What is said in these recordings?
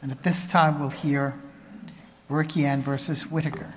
And at this time we'll hear Barikyan v. Whitaker.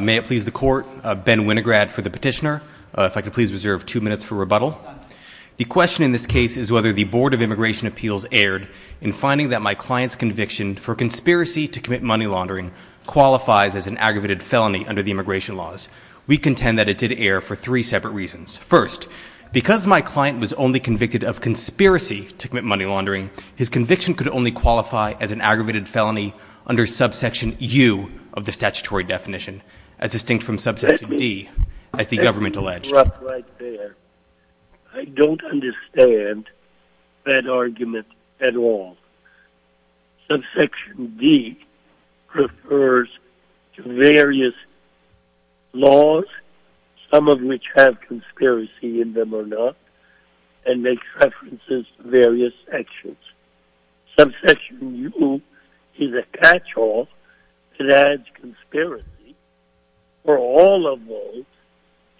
May it please the court, Ben Winograd for the petitioner. If I could please reserve two minutes for rebuttal. The question in this case is whether the Board of Immigration Appeals erred in finding that my client's conviction for conspiracy to commit money laundering qualifies as an aggravated felony under the immigration laws. We contend that it did err for three separate reasons. First, because my client was only convicted of conspiracy to commit money laundering, his conviction could only qualify as an aggravated felony under subsection U of the statutory definition, as distinct from subsection D, as the government alleged. Mr. Whitaker Let me interrupt right there. I don't understand that argument at all. Subsection D refers to various laws, some of which have conspiracy in them or not, and makes references to various sanctions. Subsection U is a catch-all that adds conspiracy for all of those,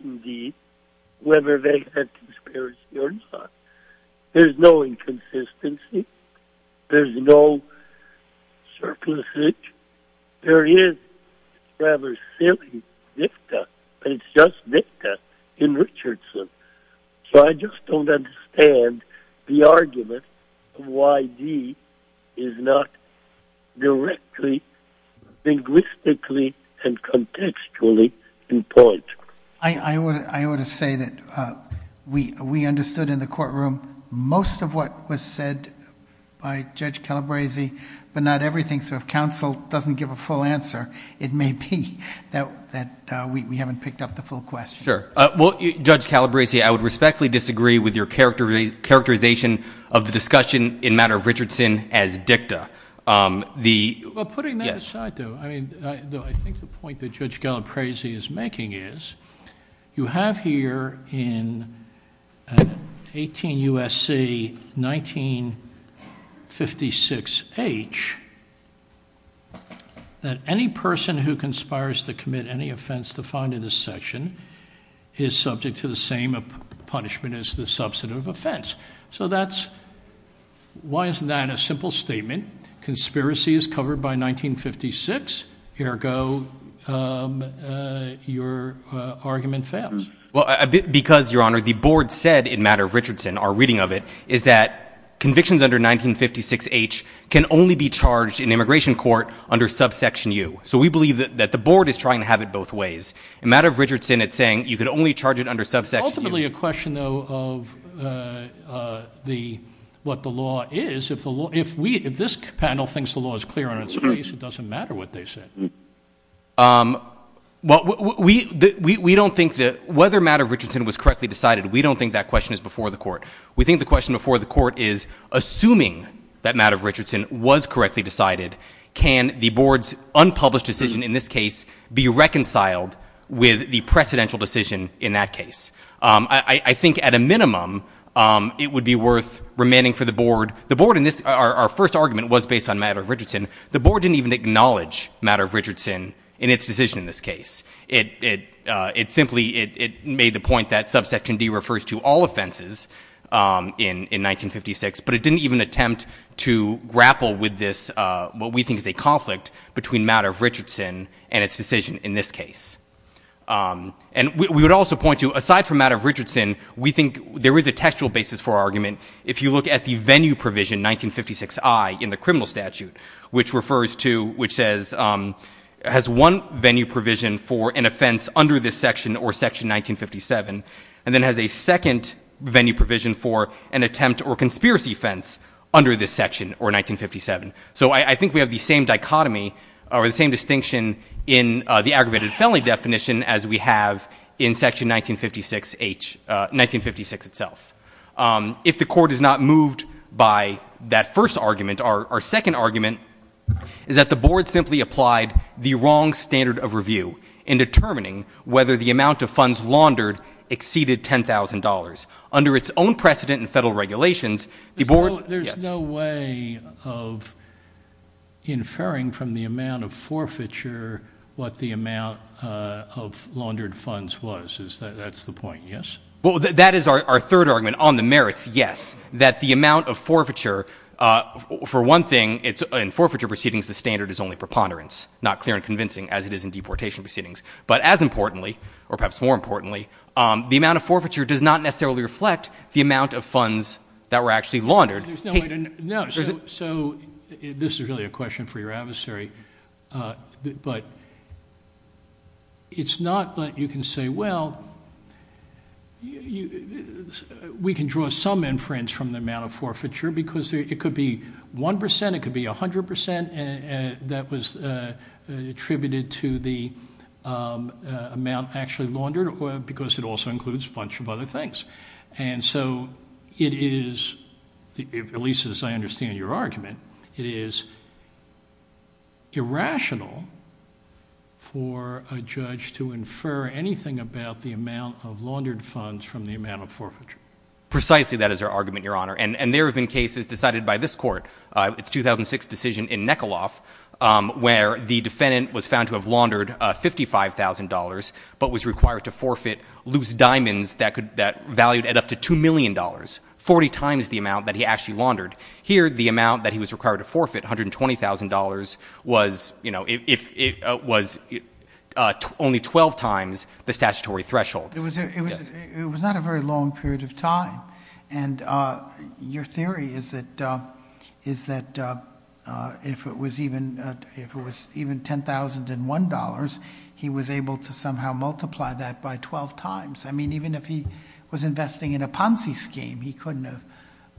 indeed, whether they have conspiracy or not. There's no inconsistency. There's no surplusage. There is rather silly NIFTA, but it's just NIFTA in Richardson. So I just don't understand the argument of why D is not directly linguistically and contextually in point. Judge Calabresi I ought to say that we understood in the courtroom most of what was said by Judge Calabresi, but not everything. So if counsel doesn't give a full answer, it may be that we haven't picked up the full question. Mr. Zients Well, Judge Calabresi, I would respectfully disagree with your characterization of the discussion in matter of Richardson as dicta. Judge Calabresi Putting that aside, though, I think the point that Judge Calabresi is making is you have here in 18 U.S.C. 1956H that any person who conspires to commit any offense defined in this section is subject to the same punishment as the substantive offense. So why isn't that a simple statement? Conspiracy is covered by 1956, ergo your argument fails. Mr. Zients Well, because, Your Honor, the board said in matter of Richardson, our reading of it, is that convictions under 1956H can only be charged in immigration court under subsection U. So we believe that the board is trying to have it both ways. In matter of Richardson, it's saying you could only charge it under subsection U. Judge Calabresi Ultimately a question, though, of what the board is saying is that in this case it doesn't matter what they said. Mr. Zients Well, we don't think that whether matter of Richardson was correctly decided, we don't think that question is before the court. We think the question before the court is, assuming that matter of Richardson was correctly decided, can the board's unpublished decision in this case be reconciled with the precedential decision in that case? I think at a minimum, it would be worth remaining for the board, the board in this, our first argument was based on matter of Richardson. The board didn't even acknowledge matter of Richardson in its decision in this case. It simply, it made the point that subsection D refers to all offenses in 1956, but it didn't even attempt to grapple with this, what we think is a conflict between matter of Richardson and its decision in this case. And we would also point to, aside from matter of Richardson, we think there is a venue provision 1956I in the criminal statute, which refers to, which says, has one venue provision for an offense under this section or section 1957, and then has a second venue provision for an attempt or conspiracy offense under this section or 1957. So I think we have the same dichotomy or the same distinction in the aggravated felony definition as we by that first argument. Our second argument is that the board simply applied the wrong standard of review in determining whether the amount of funds laundered exceeded $10,000. Under its own precedent in federal regulations, the board, yes. There's no way of inferring from the amount of forfeiture what the amount of laundered funds was. Is that, that's the amount of forfeiture. Uh, for one thing it's in forfeiture proceedings, the standard is only preponderance, not clear and convincing as it is in deportation proceedings. But as importantly, or perhaps more importantly, um, the amount of forfeiture does not necessarily reflect the amount of funds that were actually laundered. There's no way to know. So this is really a question for your adversary. Uh, but it's not, but you can say, well, you, we can draw some inference from the amount of forfeiture because it could be 1%, it could be 100% and that was, uh, attributed to the, um, uh, amount actually laundered or because it also includes a bunch of other things. And so it is at least to infer anything about the amount of laundered funds from the amount of forfeiture. Precisely that is our argument, your honor. And, and there have been cases decided by this court, uh, it's 2006 decision in Nekoloff, um, where the defendant was found to have laundered a $55,000 but was required to forfeit loose diamonds that could, that valued at up to $2 million, 40 times the amount that he actually laundered. Here, the amount that he laundered was, uh, only 12 times the statutory threshold. It was, it was, it was not a very long period of time. And, uh, your theory is that, uh, is that, uh, uh, if it was even, uh, if it was even $10,001, he was able to somehow multiply that by 12 times. I mean, even if he was investing in a Ponzi scheme, he couldn't have,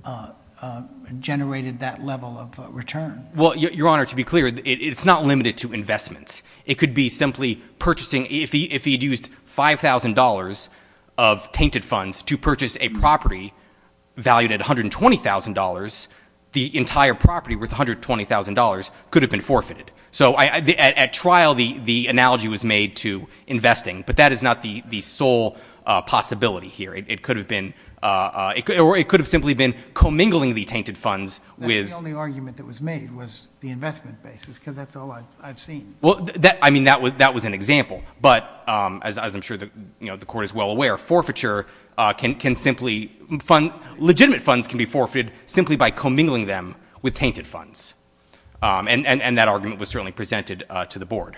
uh, uh, generated that level of return. Well, your honor, to be clear, it's not limited to investments. It could be simply purchasing. If he, if he'd used $5,000 of tainted funds to purchase a property valued at $120,000, the entire property worth $120,000 could have been forfeited. So I, at trial, the, the analogy was made to investing, but that is not the, the sole, uh, possibility here. It could have been, uh, uh, it could, or it could have simply been commingling the argument that was made was the investment basis. Cause that's all I've seen. Well, that, I mean, that was, that was an example, but, um, as, as I'm sure that, you know, the court is well aware, forfeiture, uh, can, can simply fund legitimate funds can be forfeited simply by commingling them with tainted funds. Um, and, and, and that argument was certainly presented, uh, to the board.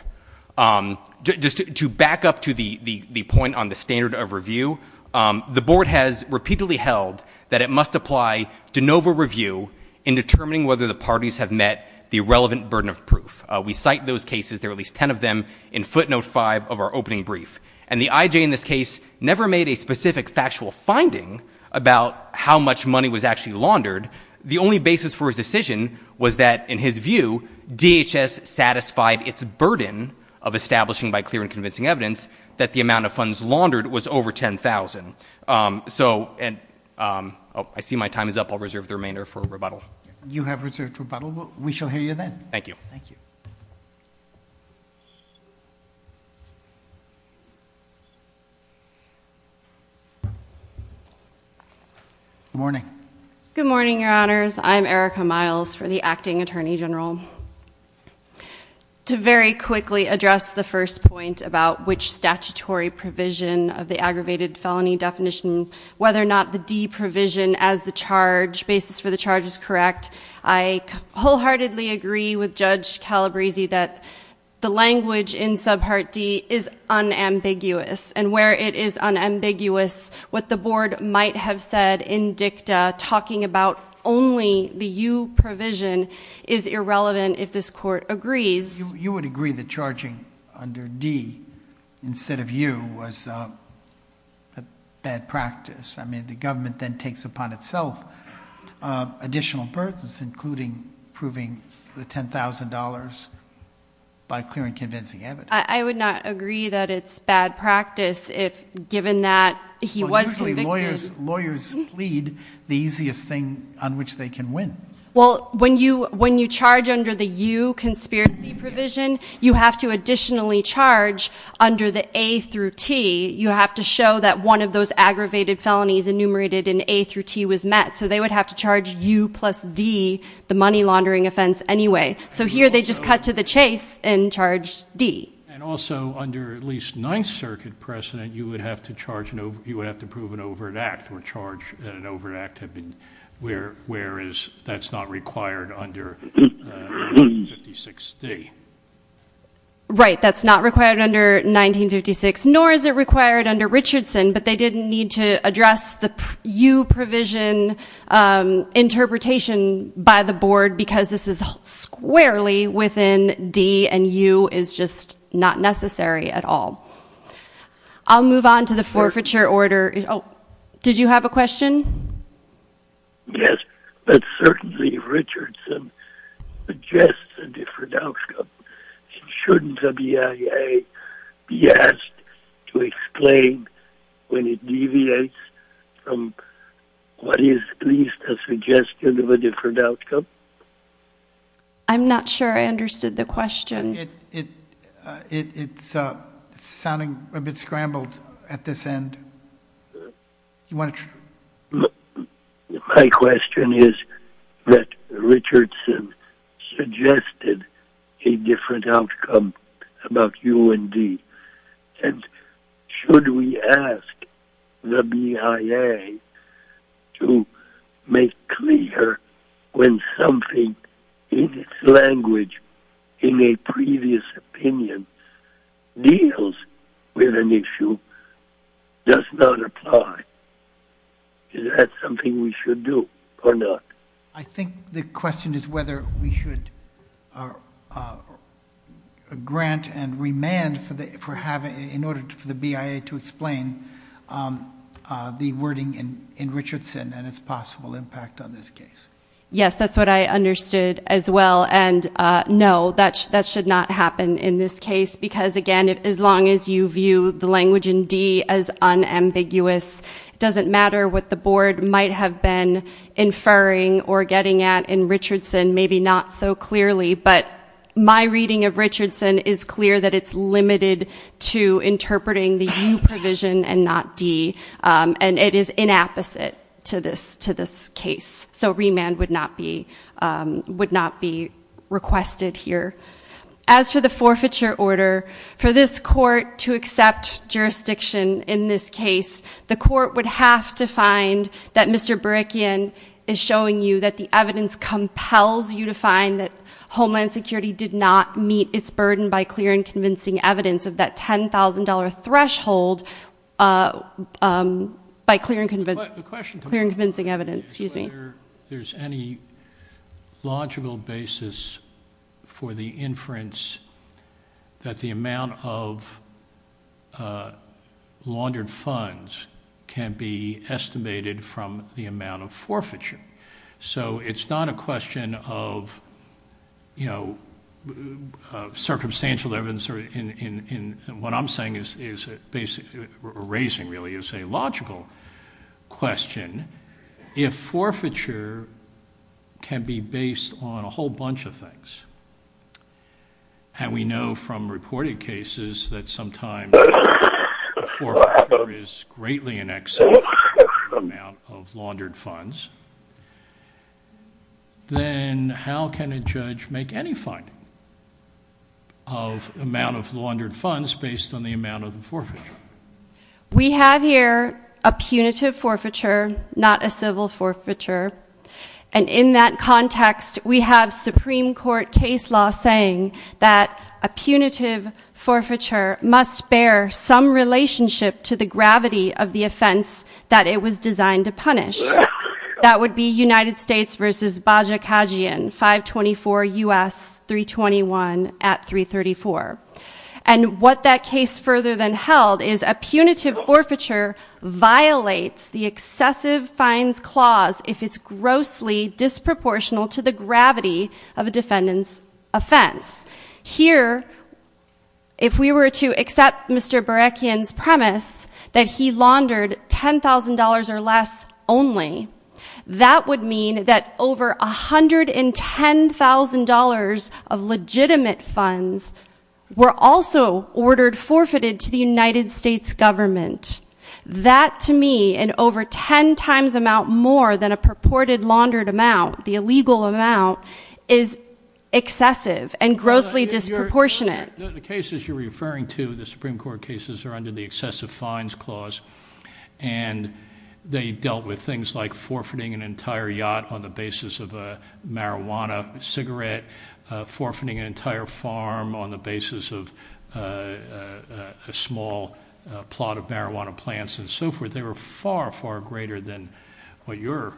Um, just to, to back up to the, the, the point on the standard of review, um, the board has repeatedly held that it must apply de novo review in determining whether the parties have met the relevant burden of proof. Uh, we cite those cases. There are at least 10 of them in footnote five of our opening brief and the IJ in this case never made a specific factual finding about how much money was actually laundered. The only basis for his decision was that in his view, DHS satisfied its burden of establishing by clear and convincing evidence that the amount of funds laundered was over 10,000. Um, so, and, um, oh, I see my time is up. I'll reserve the remainder for rebuttal. You have reserved rebuttal. We shall hear you then. Thank you. Thank you. Good morning. Good morning, your honors. I'm Erica Miles for the acting attorney general. To very quickly address the first point about which statutory provision of the aggravated felony definition, whether or not the D provision as the charge basis for the charge is correct. I wholeheartedly agree with Judge Calabresi that the language in sub part D is unambiguous and where it is unambiguous, what the board might have said in dicta talking about only the U provision is irrelevant if this court agrees. You would agree that charging under D instead of U was a bad practice. I mean, the government then takes upon itself, uh, additional burdens, including proving the $10,000 by clear and convincing evidence. I would not agree that it's bad practice if given that he was convicted. Lawyers plead the easiest thing on which they can win. Well, when you, when you charge under the U conspiracy provision, you have to additionally charge under the A through T. You have to show that one of those aggravated felonies enumerated in A through T was met. So they would have to charge U plus D the money laundering offense anyway. So here they just cut to the chase and charged D. And also under at least ninth circuit precedent, you would have to charge, you would have to move an overt act or charge that an overt act had been, where, where is that's not required under, uh, uh, 56 day, right? That's not required under 1956, nor is it required under Richardson, but they didn't need to address the U provision, um, interpretation by the board because this is squarely within D and U is just not necessary at all. I'll move on to the forfeiture order. Oh, did you have a question? Yes, but certainly Richardson suggests a different outcome. Shouldn't a BIA be asked to explain when it deviates from what is at least a suggestion of a different outcome? I'm not sure I understood the question. It, it, uh, it, it's, uh, sounding a bit scrambled at this end. My question is that Richardson suggested a different outcome about U and D and should we ask the BIA to make clear when something in its language in a previous opinion deals with an issue does not apply? Is that something we should do or not? I think the question is whether we should, uh, uh, grant and remand for the, for having in order for the BIA to explain, um, uh, the wording in, in Richardson and its possible impact on this case. Yes, that's what I understood as well. And, uh, no, that's, that should not happen in this case because again, as long as you view the language in D as unambiguous, it doesn't matter what the board might have been inferring or getting at in Richardson, maybe not so interpreting the U provision and not D, um, and it is inapposite to this, to this case. So remand would not be, um, would not be requested here. As for the forfeiture order, for this court to accept jurisdiction in this case, the court would have to find that Mr. Barikian is showing you that the evidence compels you to find that Homeland Security did not meet its burden by clear and convincing evidence of that 10,000 dollar threshold, uh, um, by clear and convincing evidence, excuse me. There's any logical basis for the inference that the amount of, uh, laundered funds can be estimated from the amount of forfeiture. So it's not a question of, you know, uh, what I'm saying is, is basically, erasing really is a logical question. If forfeiture can be based on a whole bunch of things, and we know from reported cases that sometimes a forfeiture is greatly in excess of the amount of laundered funds, then how can a judge make any finding of amount of laundered funds based on the amount of the forfeiture? We have here a punitive forfeiture, not a civil forfeiture. And in that context, we have Supreme Court case law saying that a punitive forfeiture must bear some relationship to the gravity of the offense that it was designed to punish. That would be United States versus Bajikhajian, 524 U.S. 321 at 334. And what that case further than held is a punitive forfeiture violates the excessive fines clause if it's grossly disproportional to the gravity of a defendant's offense. Here, if we were to accept Mr. Barakian's premise that he laundered $10,000 or less only, that would mean that over $110,000 of legitimate funds were also ordered forfeited to the United States government. That, to me, an over 10 times amount more than a purported laundered amount, the illegal amount, is excessive and grossly disproportionate. The cases you're referring to, the Supreme Court cases, are under the excessive fines clause and they dealt with things like forfeiting an entire yacht on the basis of a marijuana cigarette, forfeiting an entire farm on the basis of a small plot of marijuana plants and so forth. They were far, far greater than what you're-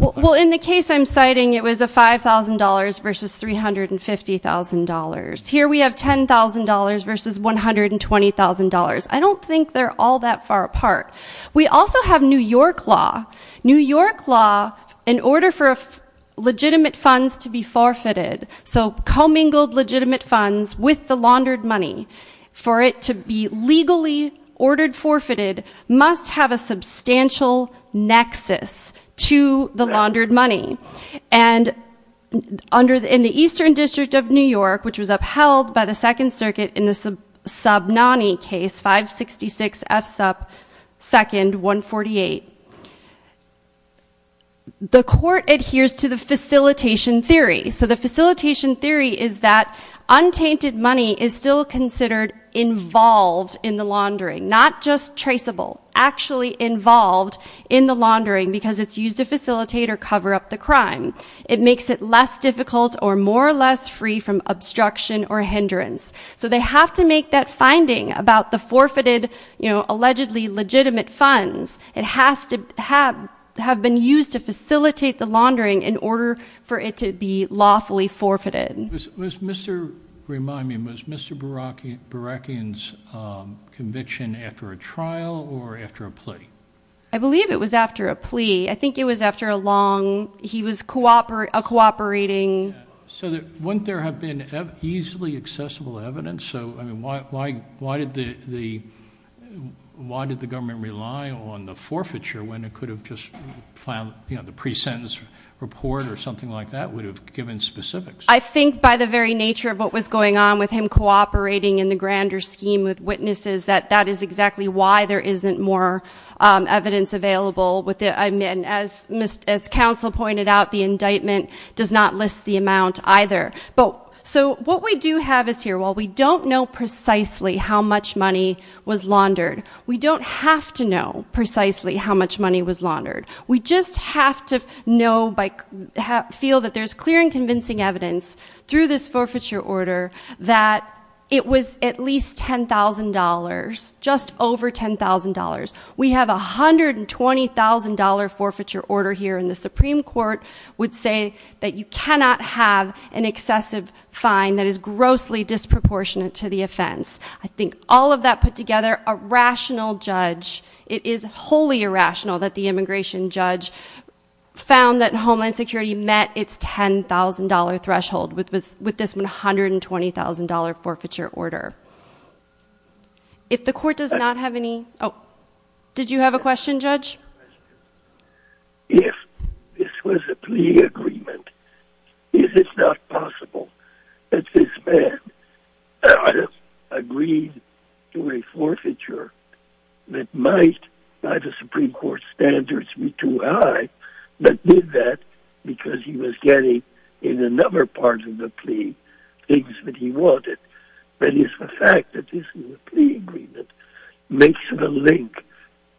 Well, in the case I'm citing, it was a $5,000 versus $350,000. Here we have $10,000 versus $120,000. I don't think they're all that far apart. We also have New York law. New York law, in order for legitimate funds to be forfeited, so commingled legitimate funds with the laundered money. And in the Eastern District of New York, which was upheld by the Second Circuit in the Subnani case, 566 F. Sup. 2nd, 148, the court adheres to the facilitation theory. So the facilitation theory is that untainted money is still considered involved in the laundering, not just traceable, actually involved in the laundering because it's used to facilitate or cover up the crime. It makes it less difficult or more or less free from obstruction or hindrance. So they have to make that finding about the forfeited, allegedly legitimate funds. It has to have been used to facilitate the laundering in order for it to be lawfully forfeited. Remind me, was Mr. Barakian's conviction after a trial or after a plea? I believe it was after a plea. I think it was after a long, he was cooperating. So wouldn't there have been easily accessible evidence? Why did the government rely on the forfeiture when it could have just filed the pre-sentence report or something like that would have given specifics? I think by the very nature of what was going on with him cooperating in the grander scheme with witnesses, that is exactly why there isn't more evidence available. As counsel pointed out, the indictment does not list the amount either. So what we do have is here, while we don't know precisely how much money was laundered, we don't have to know precisely how much money was laundered. We just have to know, feel that there's clear and convincing evidence through this forfeiture order that it was at least $10,000, just over $10,000. We have a $120,000 forfeiture order here and the Supreme Court would say that you cannot have an excessive fine that is grossly disproportionate to the offense. I think all of that put together, a rational judge, it is wholly irrational that the immigration judge found that Homeland Security met its $10,000 threshold with this $120,000 forfeiture order. If the court does not have any... Oh, did you have a question, Judge? If this was a plea agreement, is it not possible that this man agreed to a forfeiture that might, by the Supreme Court standards, be too high, but did that because he was getting in another part of the plea things that he wanted? Is the fact that this is a plea agreement makes the link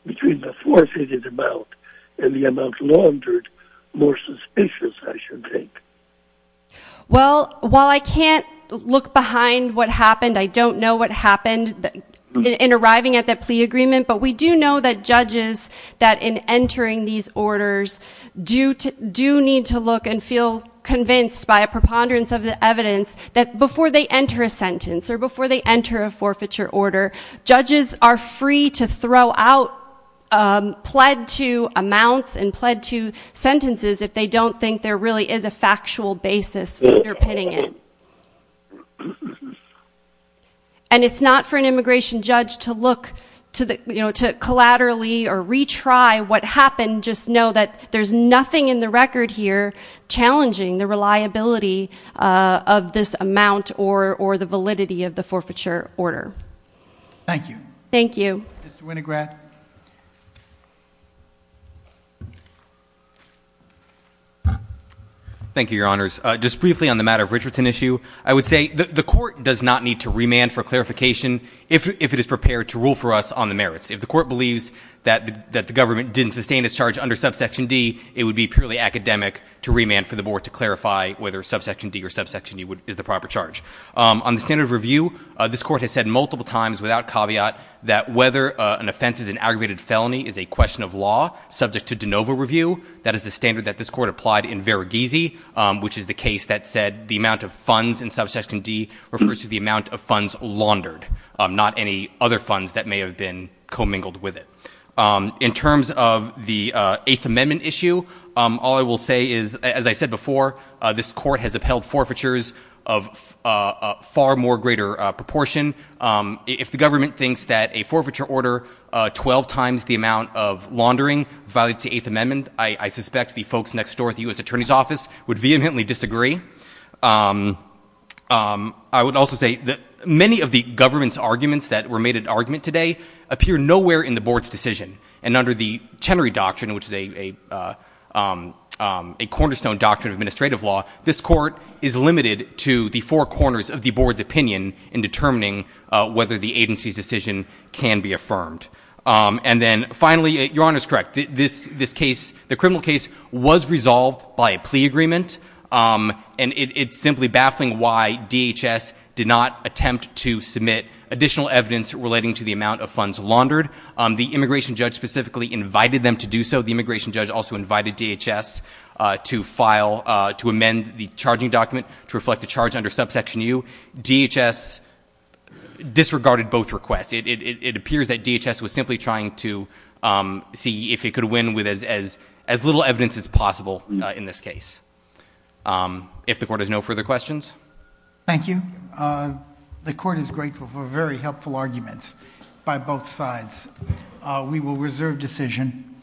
between the forfeited amount and the amount laundered more suspicious, I should think? Well, while I can't look behind what happened, I don't know what happened in arriving at that plea agreement, but we do know that judges, that in entering these orders, do need to look and feel convinced by a preponderance of the evidence that before they enter a sentence or before they enter a forfeiture order, judges are free to throw out pled to amounts and pled to sentences if they don't think there really is a factual basis underpinning it. And it's not for an immigration judge to look to collaterally or retry what happened, just know that there's nothing in the record here challenging the reliability of this amount or the validity of the forfeiture order. Thank you. Thank you. Mr. Winograd. Thank you, Your Honors. Just briefly on the matter of Richardson issue, I would say the court does not need to remand for clarification if it is prepared to rule for us on the merits. If the court believes that the government didn't sustain its charge under subsection D, it would be purely academic to remand for the board to clarify whether subsection D or subsection D is the proper charge. On the standard of review, this court has said multiple times without caveat that whether an offense is an aggravated felony is a question of law subject to de novo review. That is the standard that this court applied in Varughese, which is the case that said the amount of funds in subsection D refers to the amount of funds laundered, not any other funds that may have been commingled with it. In terms of the Eighth Amendment issue, all I will say is, as I said before, this court has upheld forfeitures of far more greater proportion. If the government thinks that a forfeiture order 12 times the amount of laundering violates the Eighth Amendment, I suspect the folks next door at the U.S. Attorney's Office would vehemently disagree. I would also say that many of the government's arguments that were made at argument today appear nowhere in the board's decision. And under the Chenery Doctrine, which is a cornerstone doctrine of administrative law, this court is limited to the four corners of the board's opinion in determining whether the agency's decision can be affirmed. And then finally, Your Honor is correct. This case, the criminal case, was resolved by a plea agreement. And it's simply baffling why DHS did not attempt to submit additional evidence relating to the amount of funds laundered. The immigration judge specifically invited them to do so. The immigration judge also invited DHS to amend the charging document to reflect the charge under subsection U. DHS disregarded both requests. It appears that DHS was simply trying to see if it could win with as little evidence as possible in this case. If the court has no further questions. Thank you. The court is grateful for very helpful arguments by both sides. We will reserve decision.